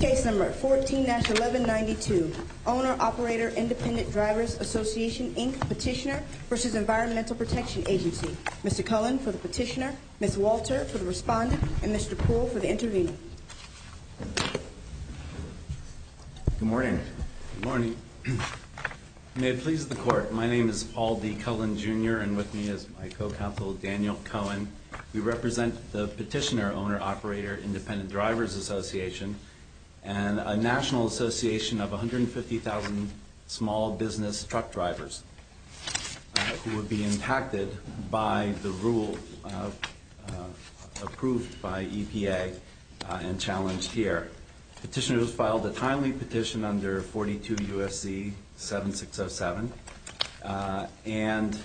Case number 14-1192, Owner-Operator Independent Drivers Association, Inc. Petitioner v. Environmental Protection Agency. Mr. Cullen for the petitioner, Ms. Walter for the respondent, and Mr. Poole for the intervener. Good morning. Good morning. May it please the court, my name is Paul D. Cullen Jr. and with me is my co-counsel Daniel Cullen. We represent the Petitioner-Owner-Operator Independent Drivers Association and a national association of 150,000 small business truck drivers who would be impacted by the rule approved by EPA and challenged here. The petitioner has filed a timely petition under 42 U.S.C. 7607. And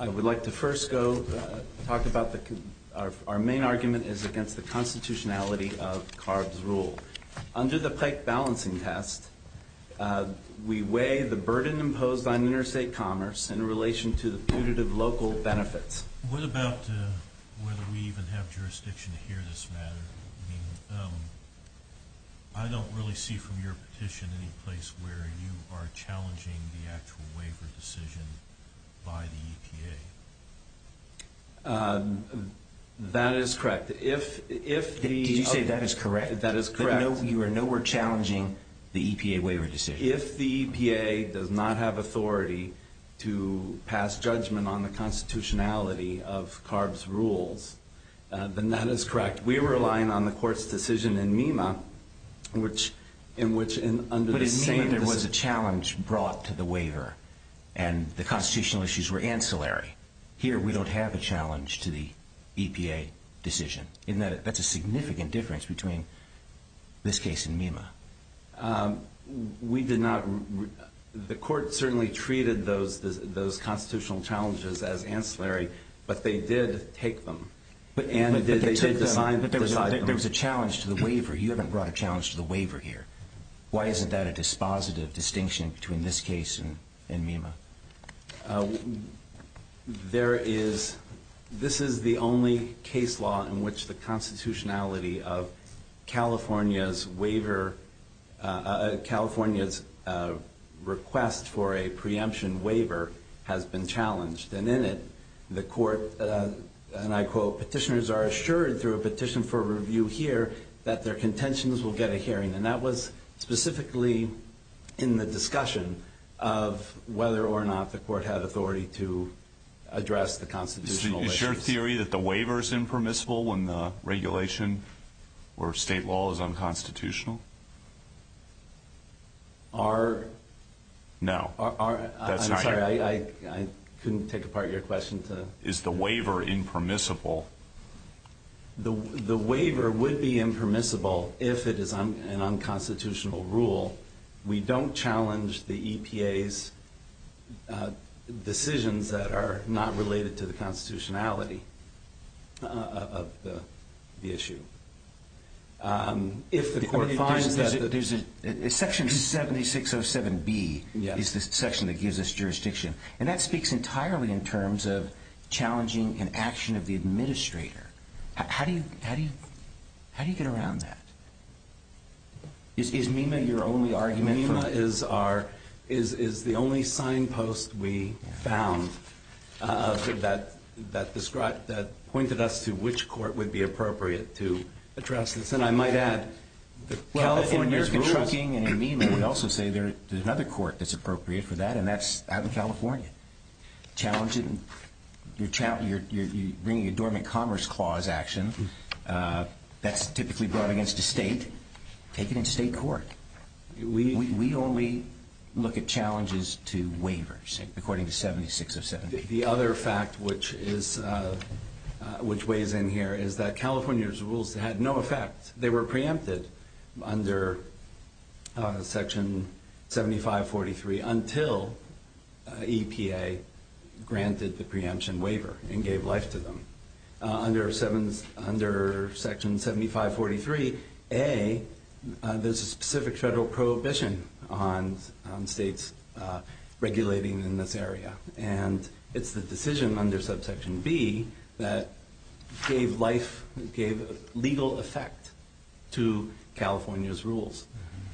I would like to first go talk about our main argument is against the constitutionality of CARB's rule. Under the Pike Balancing Test, we weigh the burden imposed on interstate commerce in relation to the punitive local benefits. What about whether we even have jurisdiction to hear this matter? I mean, I don't really see from your petition any place where you are challenging the actual waiver decision by the EPA. That is correct. Did you say that is correct? That is correct. You are in no way challenging the EPA waiver decision. If the EPA does not have authority to pass judgment on the constitutionality of CARB's rules, then that is correct. We are relying on the Court's decision in MEMA in which under the same... But in MEMA there was a challenge brought to the waiver and the constitutional issues were ancillary. Here we don't have a challenge to the EPA decision. That's a significant difference between this case and MEMA. We did not... The Court certainly treated those constitutional challenges as ancillary, but they did take them. But there was a challenge to the waiver. You haven't brought a challenge to the waiver here. Why isn't that a dispositive distinction between this case and MEMA? There is... This is the only case law in which the constitutionality of California's waiver... California's request for a preemption waiver has been challenged. And in it, the Court, and I quote, Petitioners are assured through a petition for review here that their contentions will get a hearing. And that was specifically in the discussion of whether or not the Court had authority to address the constitutional issues. Is your theory that the waiver is impermissible when the regulation or state law is unconstitutional? Our... No. I'm sorry, I couldn't take apart your question to... Is the waiver impermissible? The waiver would be impermissible if it is an unconstitutional rule. We don't challenge the EPA's decisions that are not related to the constitutionality of the issue. If the Court finds that... Section 7607B is the section that gives us jurisdiction. And that speaks entirely in terms of challenging an action of the administrator. How do you get around that? Is MEMA your only argument? MEMA is the only signpost we found that pointed us to which court would be appropriate to address this. California's rules... American Trucking and MEMA would also say there's another court that's appropriate for that, and that's out in California. You're bringing a dormant commerce clause action that's typically brought against a state. Take it into state court. We only look at challenges to waivers, according to 7607B. The other fact which weighs in here is that California's rules had no effect. They were preempted under section 7543 until EPA granted the preemption waiver and gave life to them. Under section 7543A, there's a specific federal prohibition on states regulating in this area. And it's the decision under subsection B that gave legal effect to California's rules.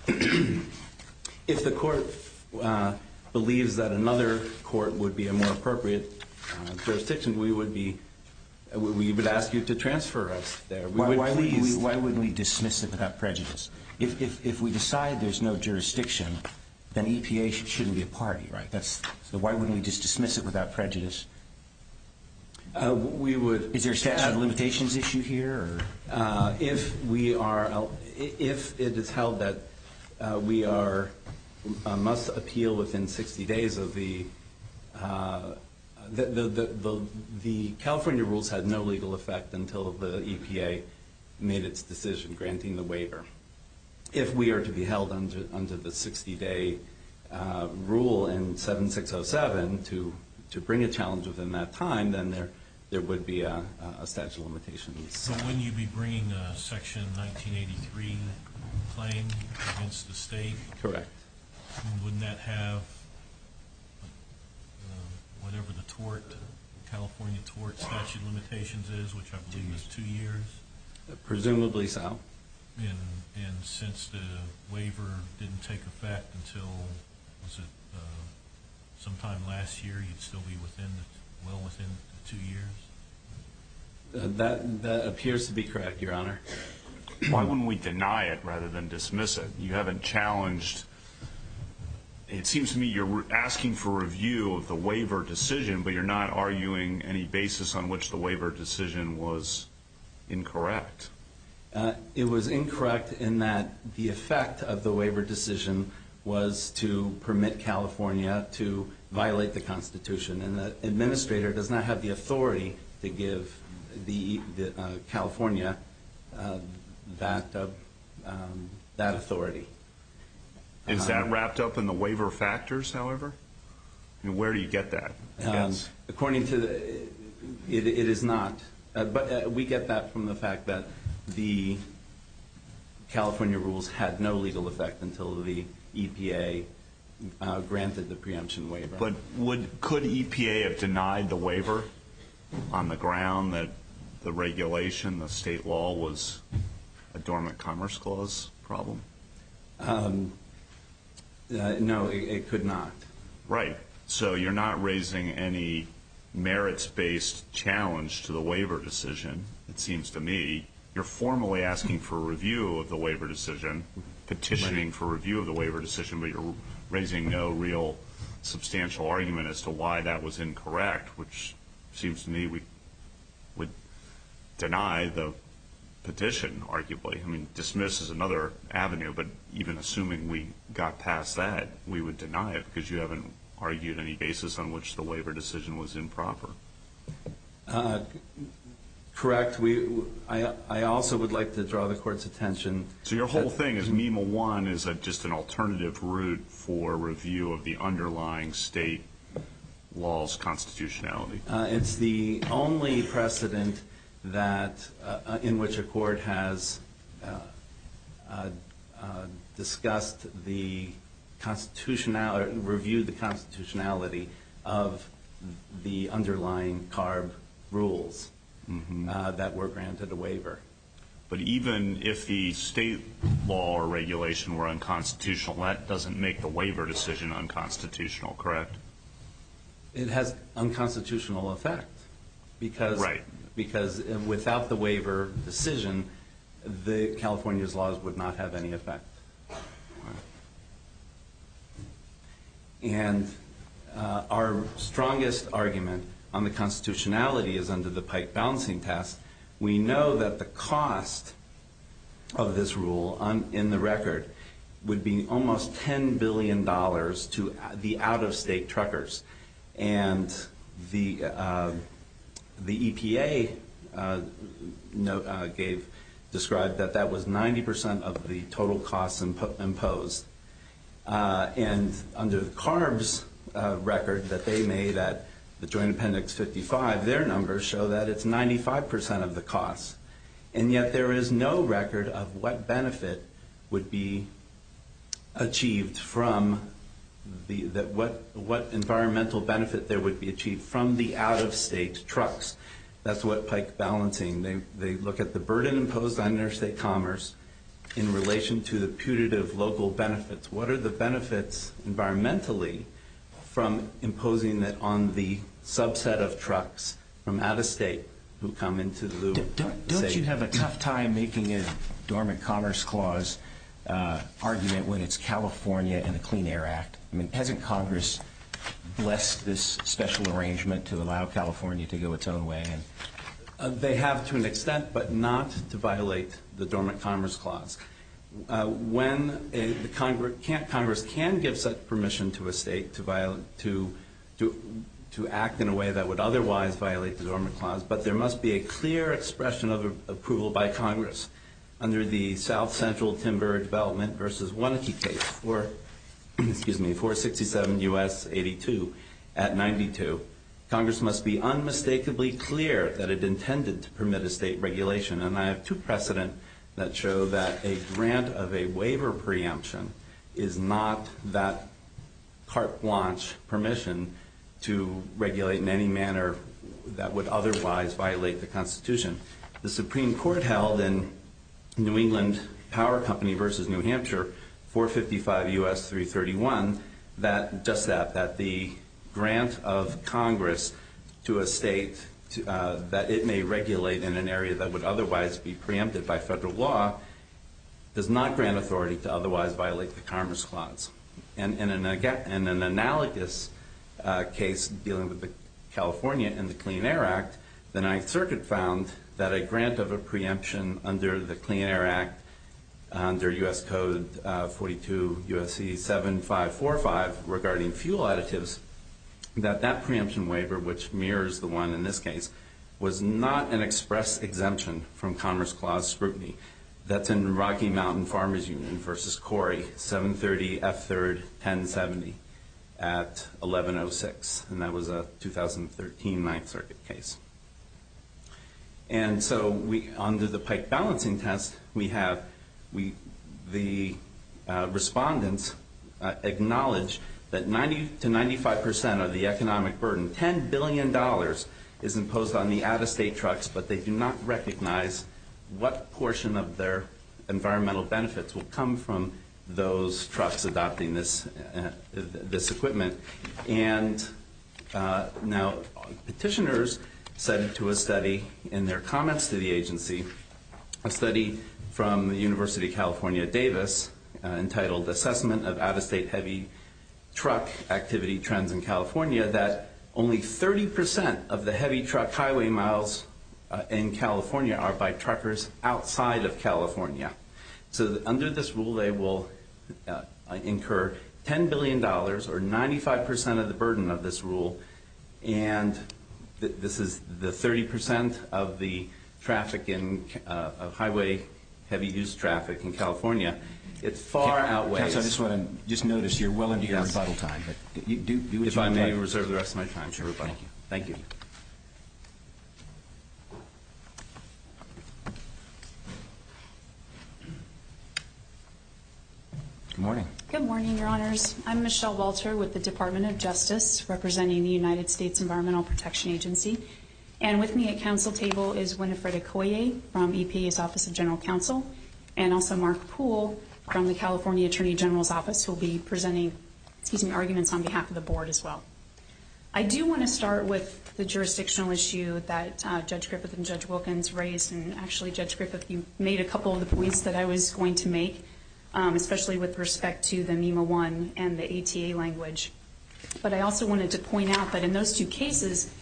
If the Court believes that another court would be a more appropriate jurisdiction, we would ask you to transfer us there. Why wouldn't we dismiss it without prejudice? If we decide there's no jurisdiction, then EPA shouldn't be a party, right? So why wouldn't we just dismiss it without prejudice? Is there a limitations issue here? If it is held that we must appeal within 60 days of the... The California rules had no legal effect until the EPA made its decision granting the waiver. If we are to be held under the 60-day rule in 7607 to bring a challenge within that time, then there would be a statute of limitations. So wouldn't you be bringing a section 1983 claim against the state? Correct. Wouldn't that have whatever the tort, California tort statute of limitations is, which I believe is two years? Presumably so. And since the waiver didn't take effect until, was it sometime last year, you'd still be well within two years? That appears to be correct, Your Honor. Why wouldn't we deny it rather than dismiss it? You haven't challenged... It seems to me you're asking for review of the waiver decision, but you're not arguing any basis on which the waiver decision was incorrect. It was incorrect in that the effect of the waiver decision was to permit California to violate the Constitution, and the administrator does not have the authority to give California that authority. Is that wrapped up in the waiver factors, however? Where do you get that? According to the, it is not. But we get that from the fact that the California rules had no legal effect until the EPA granted the preemption waiver. But could EPA have denied the waiver on the ground that the regulation, the state law, was a dormant commerce clause problem? No, it could not. Right. So you're not raising any merits-based challenge to the waiver decision, it seems to me. You're formally asking for review of the waiver decision, petitioning for review of the waiver decision, but you're raising no real substantial argument as to why that was incorrect, which seems to me would deny the petition, arguably. I mean, dismiss is another avenue, but even assuming we got past that, we would deny it because you haven't argued any basis on which the waiver decision was improper. Correct. I also would like to draw the Court's attention. So your whole thing is MEMA I is just an alternative route for review of the underlying state law's constitutionality. It's the only precedent in which a court has discussed the constitutionality, reviewed the constitutionality, of the underlying CARB rules that were granted a waiver. But even if the state law or regulation were unconstitutional, that doesn't make the waiver decision unconstitutional, correct? It has unconstitutional effect. Right. Because without the waiver decision, California's laws would not have any effect. And our strongest argument on the constitutionality is under the Pike balancing test. We know that the cost of this rule in the record would be almost $10 billion to the out-of-state truckers. And the EPA described that that was 90% of the total costs imposed. And under the CARB's record that they made at the Joint Appendix 55, their numbers show that it's 95% of the costs. And yet there is no record of what environmental benefit there would be achieved from the out-of-state trucks. That's what Pike balancing. They look at the burden imposed on interstate commerce in relation to the putative local benefits. What are the benefits environmentally from imposing it on the subset of trucks from out-of-state who come into the loop? Don't you have a tough time making a dormant commerce clause argument when it's California and the Clean Air Act? I mean, hasn't Congress blessed this special arrangement to allow California to go its own way? They have to an extent, but not to violate the dormant commerce clause. Congress can give such permission to a state to act in a way that would otherwise violate the dormant clause, but there must be a clear expression of approval by Congress. Under the South Central Timber Development v. Wannake case, 467 U.S. 82 at 92, Congress must be unmistakably clear that it intended to permit a state regulation. And I have two precedent that show that a grant of a waiver preemption is not that carte blanche permission to regulate in any manner that would otherwise violate the Constitution. The Supreme Court held in New England Power Company v. New Hampshire, 455 U.S. 331, that the grant of Congress to a state that it may regulate in an area that would otherwise be preempted by federal law does not grant authority to otherwise violate the commerce clause. In an analogous case dealing with California and the Clean Air Act, the Ninth Circuit found that a grant of a preemption under the Clean Air Act, under U.S. Code 42 U.S.C. 7545 regarding fuel additives, that that preemption waiver, which mirrors the one in this case, was not an express exemption from commerce clause scrutiny. That's in Rocky Mountain Farmers Union v. Corey, 730 F. 3rd, 1070 at 1106. And that was a 2013 Ninth Circuit case. And so under the pike balancing test, we have the respondents acknowledge that 90 to 95% of the economic burden, $10 billion is imposed on the out-of-state trucks, but they do not recognize what portion of their environmental benefits will come from those trucks adopting this equipment. And now petitioners said to a study in their comments to the agency, a study from the University of California, Davis, entitled Assessment of Out-of-State Heavy Truck Activity Trends in California, that only 30% of the heavy truck highway miles in California are by truckers outside of California. So under this rule, they will incur $10 billion, or 95% of the burden of this rule, and this is the 30% of the traffic of highway heavy use traffic in California. It far outweighs... Judge, I just want to notice you're well into your rebuttal time. If I may reserve the rest of my time for rebuttal. Thank you. Good morning. Good morning, Your Honors. I'm Michelle Walter with the Department of Justice, representing the United States Environmental Protection Agency, and with me at council table is Winifred Okoye from EPA's Office of General Counsel, and also Mark Poole from the California Attorney General's Office, who will be presenting arguments on behalf of the board as well. I do want to start with the jurisdictional issue that Judge Griffith and Judge Wilkins raised, and actually, Judge Griffith, you made a couple of the points that I was going to make, especially with respect to the MEMA I and the ATA language. But I also wanted to point out that in those two cases,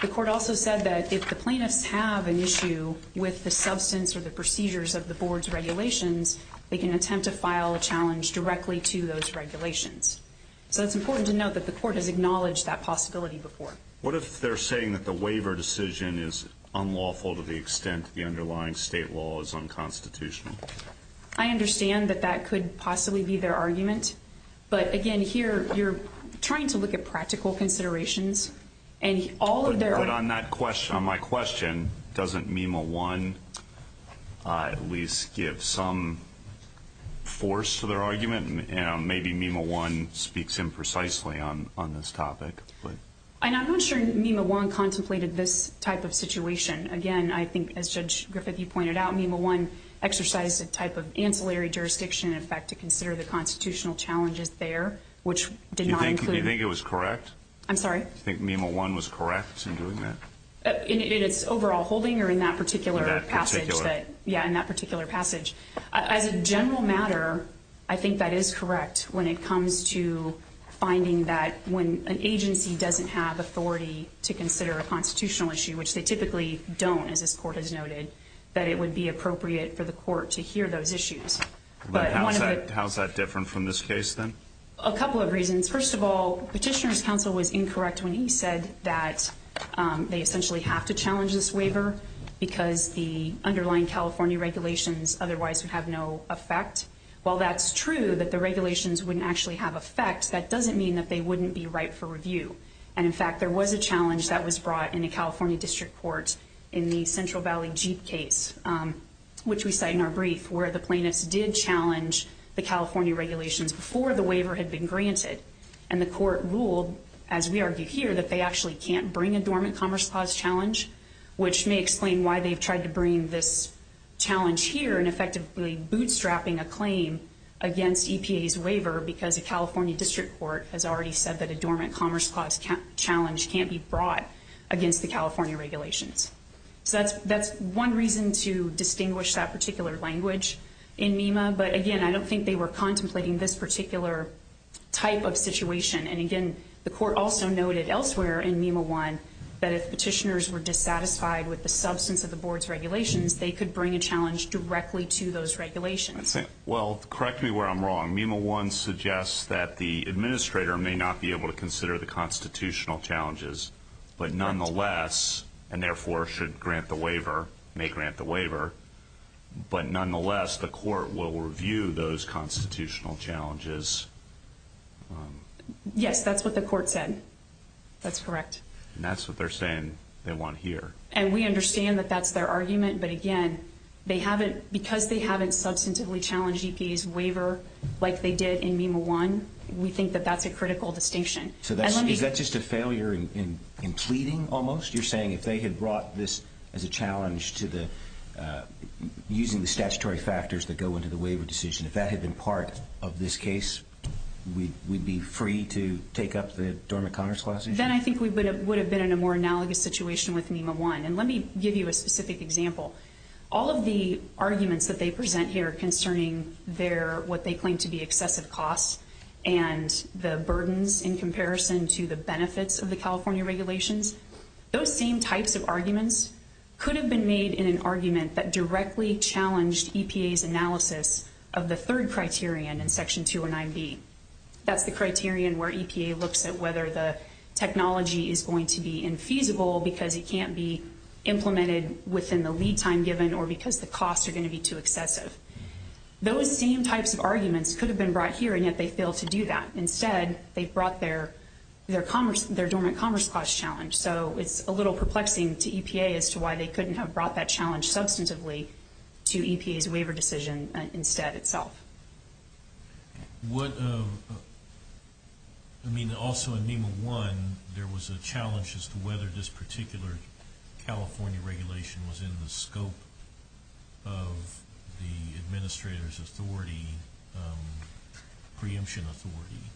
the court also said that if the plaintiffs have an issue with the substance or the procedures of the board's regulations, they can attempt to file a challenge directly to those regulations. So it's important to note that the court has acknowledged that possibility before. What if they're saying that the waiver decision is unlawful to the extent the underlying state law is unconstitutional? I understand that that could possibly be their argument. But, again, here you're trying to look at practical considerations. But on my question, doesn't MEMA I at least give some force to their argument? Maybe MEMA I speaks imprecisely on this topic. I'm not sure MEMA I contemplated this type of situation. Again, I think, as Judge Griffith, you pointed out, MEMA I exercised a type of ancillary jurisdiction in effect to consider the constitutional challenges there, which did not include- Do you think it was correct? I'm sorry? Do you think MEMA I was correct in doing that? In its overall holding or in that particular passage? In that particular- Yeah, in that particular passage. As a general matter, I think that is correct when it comes to finding that when an agency doesn't have authority to consider a constitutional issue, which they typically don't, as this Court has noted, that it would be appropriate for the Court to hear those issues. But how is that different from this case, then? A couple of reasons. First of all, Petitioner's counsel was incorrect when he said that they essentially have to challenge this waiver because the underlying California regulations otherwise would have no effect. While that's true, that the regulations wouldn't actually have effect, that doesn't mean that they wouldn't be right for review. And, in fact, there was a challenge that was brought in a California district court in the Central Valley Jeep case, which we cite in our brief, where the plaintiffs did challenge the California regulations before the waiver had been granted. And the Court ruled, as we argue here, that they actually can't bring a dormant commerce clause challenge, which may explain why they've tried to bring this challenge here and effectively bootstrapping a claim against EPA's waiver because a California district court has already said that a dormant commerce clause challenge can't be brought against the California regulations. So that's one reason to distinguish that particular language in MEMA. But, again, I don't think they were contemplating this particular type of situation. And, again, the Court also noted elsewhere in MEMA I that if petitioners were dissatisfied with the substance of the Board's regulations, they could bring a challenge directly to those regulations. Well, correct me where I'm wrong. MEMA I suggests that the administrator may not be able to consider the constitutional challenges, but nonetheless, and therefore should grant the waiver, may grant the waiver, but nonetheless the Court will review those constitutional challenges. Yes, that's what the Court said. That's correct. And that's what they're saying they want here. And we understand that that's their argument. But, again, because they haven't substantively challenged EPA's waiver like they did in MEMA I, we think that that's a critical distinction. Is that just a failure in pleading almost? You're saying if they had brought this as a challenge using the statutory factors that go into the waiver decision, if that had been part of this case, we'd be free to take up the dormant commerce clause issue? Then I think we would have been in a more analogous situation with MEMA I. And let me give you a specific example. All of the arguments that they present here concerning what they claim to be excessive costs and the burdens in comparison to the benefits of the California regulations, those same types of arguments could have been made in an argument that directly challenged EPA's analysis of the third criterion in Section 209B. That's the criterion where EPA looks at whether the technology is going to be infeasible because it can't be implemented within the lead time given or because the costs are going to be too excessive. Those same types of arguments could have been brought here, and yet they failed to do that. Instead, they brought their dormant commerce clause challenge. So it's a little perplexing to EPA as to why they couldn't have brought that challenge substantively to EPA's waiver decision instead itself. Also in MEMA I, there was a challenge as to whether this particular California regulation was in the scope of the administrator's authority, preemption authority,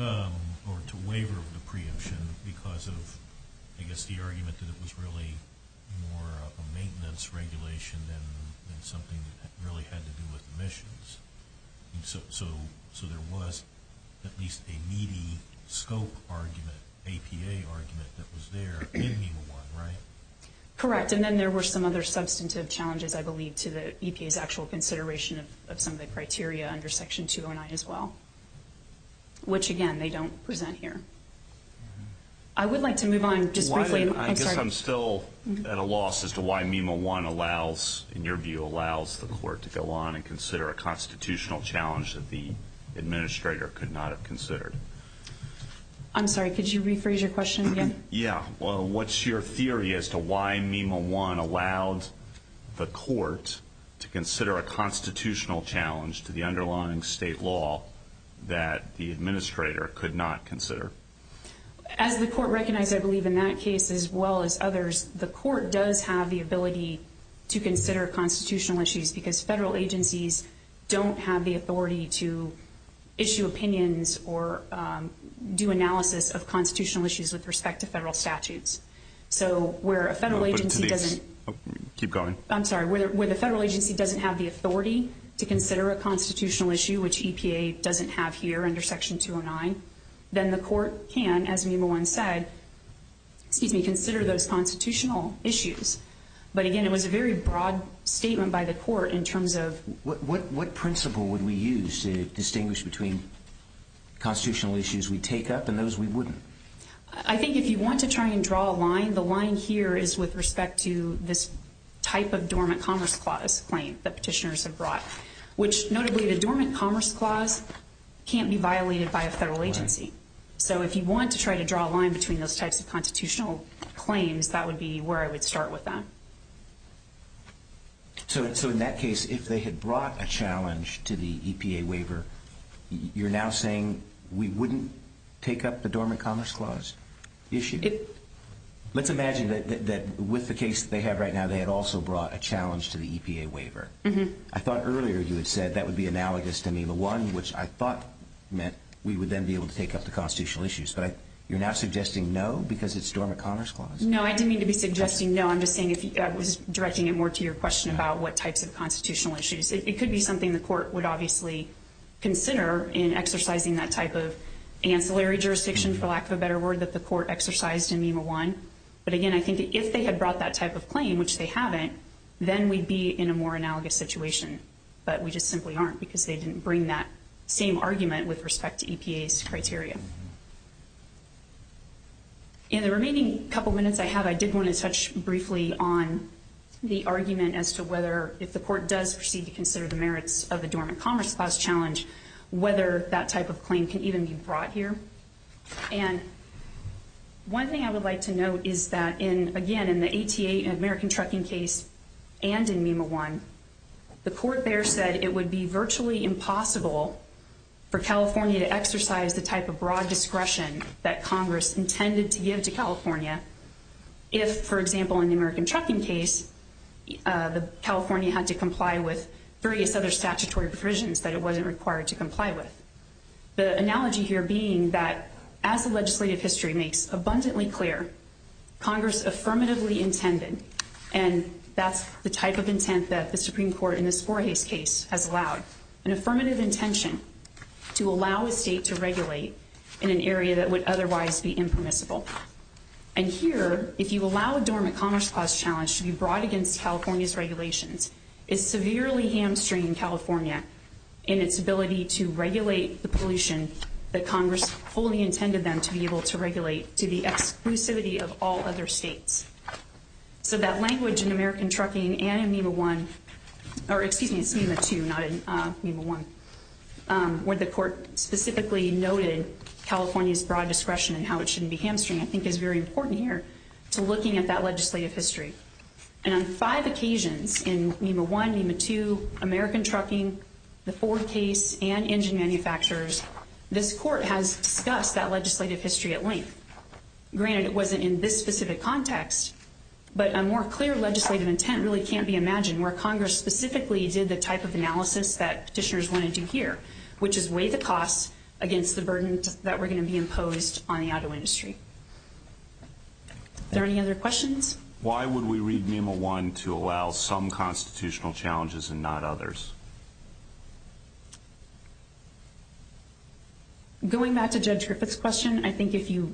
or to waiver the preemption because of, I guess, the argument that it was really more of a maintenance regulation than something that really had to do with emissions. So there was at least a meaty scope argument, APA argument, that was there in MEMA I, right? Correct, and then there were some other substantive challenges, I believe, to EPA's actual consideration of some of the criteria under Section 209 as well, which, again, they don't present here. I would like to move on just briefly. I guess I'm still at a loss as to why MEMA I allows, in your view, allows the court to go on and consider a constitutional challenge that the administrator could not have considered. I'm sorry, could you rephrase your question again? Yeah, well, what's your theory as to why MEMA I allowed the court to consider a constitutional challenge to the underlying state law that the administrator could not consider? As the court recognized, I believe, in that case as well as others, the court does have the ability to consider constitutional issues because federal agencies don't have the authority to issue opinions or do analysis of constitutional issues with respect to federal statutes. So where a federal agency doesn't have the authority to consider a constitutional issue, which EPA doesn't have here under Section 209, then the court can, as MEMA I said, consider those constitutional issues. But again, it was a very broad statement by the court in terms of... What principle would we use to distinguish between constitutional issues we take up and those we wouldn't? I think if you want to try and draw a line, the line here is with respect to this type of dormant commerce clause claim that petitioners have brought, which notably the dormant commerce clause can't be violated by a federal agency. So if you want to try to draw a line between those types of constitutional claims, that would be where I would start with that. So in that case, if they had brought a challenge to the EPA waiver, you're now saying we wouldn't take up the dormant commerce clause issue? Let's imagine that with the case that they have right now, they had also brought a challenge to the EPA waiver. I thought earlier you had said that would be analogous to MEMA I, which I thought meant we would then be able to take up the constitutional issues. But you're now suggesting no because it's dormant commerce clause? No, I didn't mean to be suggesting no. I'm just saying I was directing it more to your question about what types of constitutional issues. It could be something the court would obviously consider in exercising that type of ancillary jurisdiction, for lack of a better word, that the court exercised in MEMA I. But again, I think if they had brought that type of claim, which they haven't, then we'd be in a more analogous situation. But we just simply aren't because they didn't bring that same argument with respect to EPA's criteria. In the remaining couple minutes I have, I did want to touch briefly on the argument as to whether, if the court does proceed to consider the merits of the dormant commerce clause challenge, whether that type of claim can even be brought here. And one thing I would like to note is that, again, in the ATA and American Trucking case and in MEMA I, the court there said it would be virtually impossible for California to exercise the type of broad discretion that Congress intended to give to California if, for example, in the American Trucking case, California had to comply with various other statutory provisions that it wasn't required to comply with. The analogy here being that, as the legislative history makes abundantly clear, Congress affirmatively intended, and that's the type of intent that the Supreme Court in the Sporhes case has allowed, an affirmative intention to allow a state to regulate in an area that would otherwise be impermissible. And here, if you allow a dormant commerce clause challenge to be brought against California's regulations, it's severely hamstringing California in its ability to regulate the pollution that Congress fully intended them to be able to regulate to the exclusivity of all other states. So that language in American Trucking and in MEMA I, or excuse me, it's MEMA II, not MEMA I, where the court specifically noted California's broad discretion and how it shouldn't be hamstringed, I think is very important here to looking at that legislative history. And on five occasions in MEMA I, MEMA II, American Trucking, the Ford case, and engine manufacturers, this court has discussed that legislative history at length. Granted, it wasn't in this specific context, but a more clear legislative intent really can't be imagined where Congress specifically did the type of analysis that petitioners wanted to hear, which is weigh the costs against the burden that were going to be imposed on the auto industry. Are there any other questions? Why would we read MEMA I to allow some constitutional challenges and not others? Going back to Judge Griffith's question, I think if you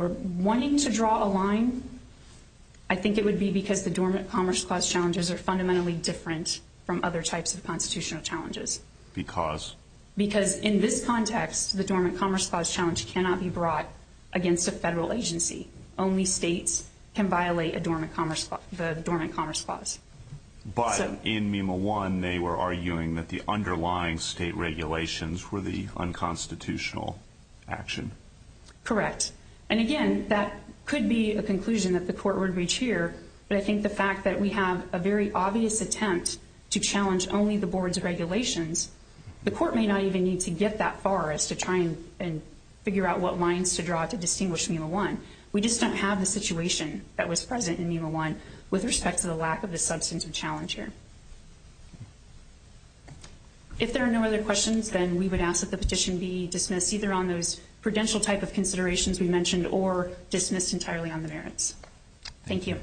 are wanting to draw a line, I think it would be because the Dormant Commerce Clause challenges are fundamentally different from other types of constitutional challenges. Because? Because in this context, the Dormant Commerce Clause challenge cannot be brought against a federal agency. Only states can violate the Dormant Commerce Clause. But in MEMA I, they were arguing that the underlying state regulations were the unconstitutional action. Correct. And again, that could be a conclusion that the court would reach here, but I think the fact that we have a very obvious attempt to challenge only the board's regulations, the court may not even need to get that far as to try and figure out what lines to draw to distinguish MEMA I. We just don't have the situation that was present in MEMA I with respect to the lack of the substantive challenge here. If there are no other questions, then we would ask that the petition be dismissed, either on those prudential type of considerations we mentioned or dismissed entirely on the merits. Thank you.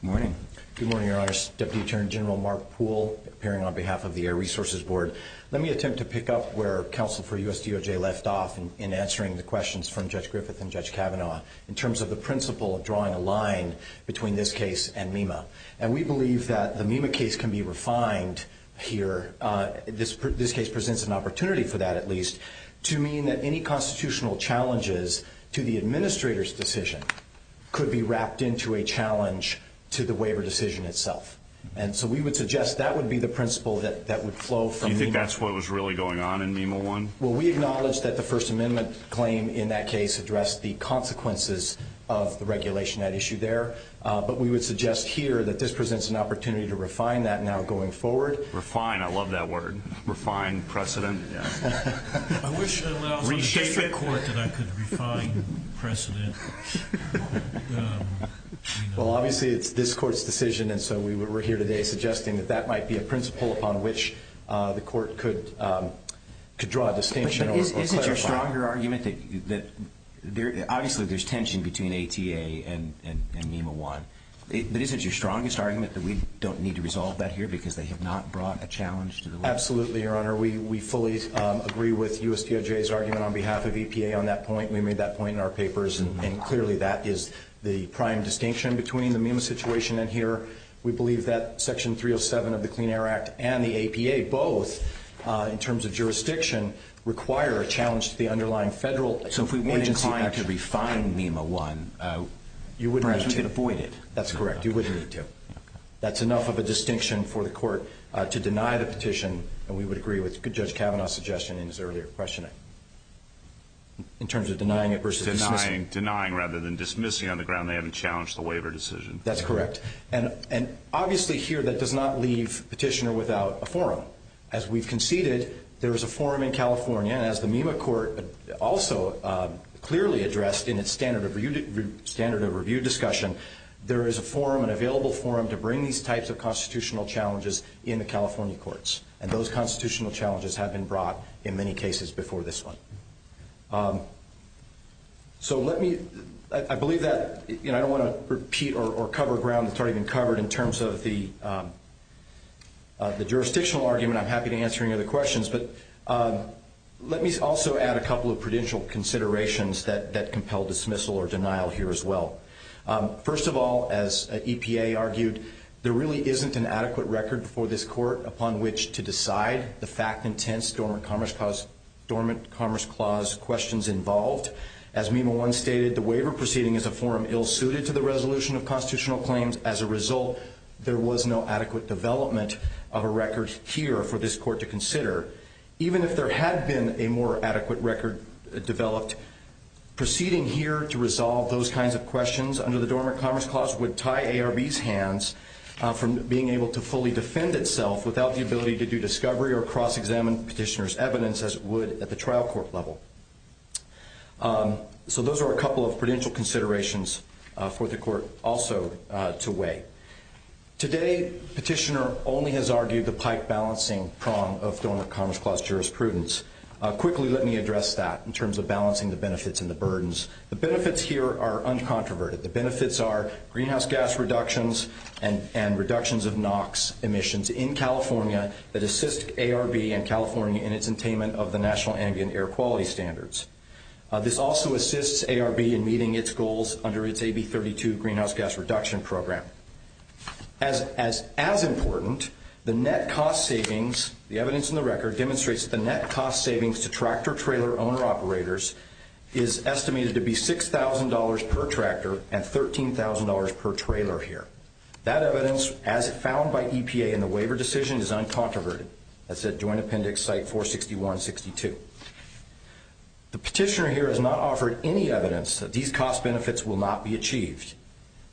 Good morning. Good morning, Your Honors. Deputy Attorney General Mark Poole, appearing on behalf of the Air Resources Board. Let me attempt to pick up where counsel for USDOJ left off in answering the questions from Judge Griffith and Judge Kavanaugh in terms of the principle of drawing a line between this case and MEMA. And we believe that the MEMA case can be refined here. This case presents an opportunity for that, at least, to mean that any constitutional challenges to the administrator's decision could be wrapped into a challenge to the waiver decision itself. And so we would suggest that would be the principle that would flow from MEMA. Do you think that's what was really going on in MEMA I? Well, we acknowledge that the First Amendment claim in that case addressed the consequences of the regulation at issue there, but we would suggest here that this presents an opportunity to refine that now going forward. Refine. I love that word. Refine precedent. I wish I could refine precedent. Well, obviously, it's this court's decision, and so we're here today suggesting that that might be a principle upon which the court could draw a distinction or clarify. Obviously, there's tension between ATA and MEMA I. But isn't your strongest argument that we don't need to resolve that here because they have not brought a challenge to the law? Absolutely, Your Honor. We fully agree with U.S. DOJ's argument on behalf of EPA on that point. We made that point in our papers, and clearly that is the prime distinction between the MEMA situation and here. We believe that Section 307 of the Clean Air Act and the APA both, in terms of jurisdiction, require a challenge to the underlying federal agency action. So if we weren't inclined to refine MEMA I, perhaps we could avoid it. That's correct. You wouldn't need to. That's enough of a distinction for the court to deny the petition, and we would agree with Judge Kavanaugh's suggestion in his earlier questioning in terms of denying it versus dismissing it. Denying rather than dismissing on the ground they haven't challenged the waiver decision. That's correct. And obviously here that does not leave Petitioner without a forum. As we've conceded, there is a forum in California, and as the MEMA court also clearly addressed in its standard of review discussion, there is a forum, an available forum, to bring these types of constitutional challenges in the California courts. And those constitutional challenges have been brought in many cases before this one. So let me, I believe that, you know, I don't want to repeat or cover ground that's already been covered in terms of the jurisdictional argument. I'm happy to answer any other questions, but let me also add a couple of prudential considerations that compel dismissal or denial here as well. First of all, as EPA argued, there really isn't an adequate record before this court upon which to decide the fact and tense Dormant Commerce Clause questions involved. As MEMA 1 stated, the waiver proceeding is a forum ill-suited to the resolution of constitutional claims. As a result, there was no adequate development of a record here for this court to consider. Even if there had been a more adequate record developed, proceeding here to resolve those kinds of questions under the Dormant Commerce Clause would tie ARB's hands from being able to fully defend itself without the ability to do discovery or cross-examine petitioner's evidence as it would at the trial court level. So those are a couple of prudential considerations for the court also to weigh. Today, petitioner only has argued the pike balancing prong of Dormant Commerce Clause jurisprudence. Quickly, let me address that in terms of balancing the benefits and the burdens. The benefits here are uncontroverted. The benefits are greenhouse gas reductions and reductions of NOx emissions in California that assist ARB and California in its attainment of the National Ambient Air Quality Standards. This also assists ARB in meeting its goals under its AB 32 Greenhouse Gas Reduction Program. As important, the net cost savings, the evidence in the record demonstrates that the net cost savings to tractor-trailer owner-operators is estimated to be $6,000 per tractor and $13,000 per trailer here. That evidence, as found by EPA in the waiver decision, is uncontroverted. That's at Joint Appendix Site 461-62. The petitioner here has not offered any evidence that these cost benefits will not be achieved,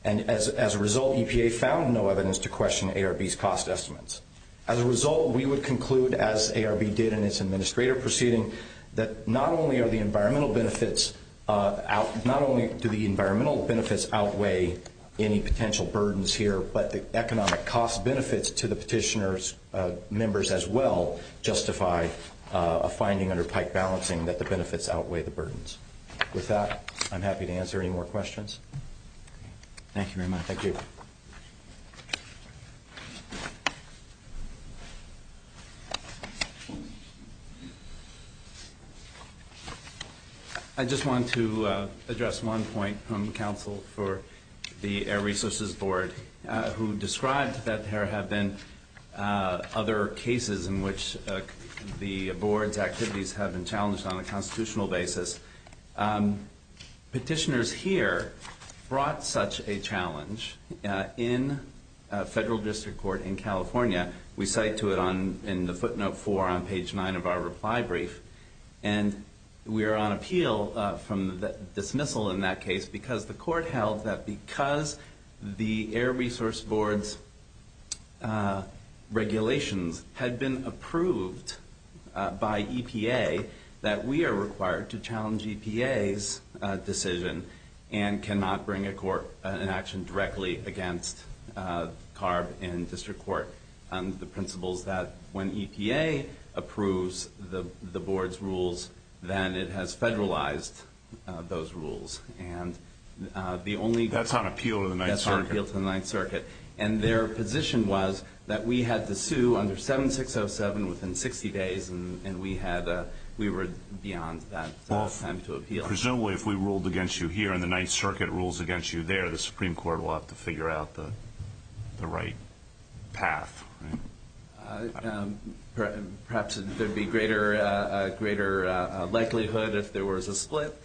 and as a result, EPA found no evidence to question ARB's cost estimates. As a result, we would conclude, as ARB did in its administrative proceeding, that not only do the environmental benefits outweigh any potential burdens here, but the economic cost benefits to the petitioner's members as well justify a finding under pike balancing that the benefits outweigh the burdens. With that, I'm happy to answer any more questions. Thank you very much. Thank you. I just want to address one point from counsel for the Air Resources Board who described that there have been other cases in which the board's activities have been challenged on a constitutional basis. Petitioners here brought such a challenge in a federal district court in California. We cite to it in the footnote four on page nine of our reply brief. And we are on appeal from the dismissal in that case because the court held that because the Air Resource Board's regulations had been approved by EPA, that we are required to challenge EPA's decision and cannot bring a court in action directly against CARB in district court under the principles that when EPA approves the board's rules, then it has federalized those rules. That's on appeal to the Ninth Circuit. That's on appeal to the Ninth Circuit. And their position was that we had to sue under 7607 within 60 days, and we were beyond that time to appeal. Presumably, if we ruled against you here and the Ninth Circuit rules against you there, the Supreme Court will have to figure out the right path. Perhaps there would be greater likelihood if there was a split.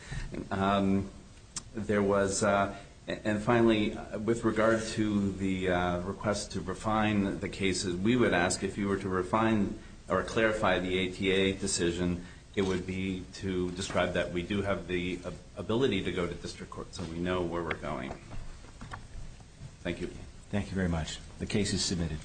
And finally, with regard to the request to refine the cases, we would ask if you were to refine or clarify the ATA decision, it would be to describe that we do have the ability to go to district court so we know where we're going. Thank you. Thank you very much. The case is submitted.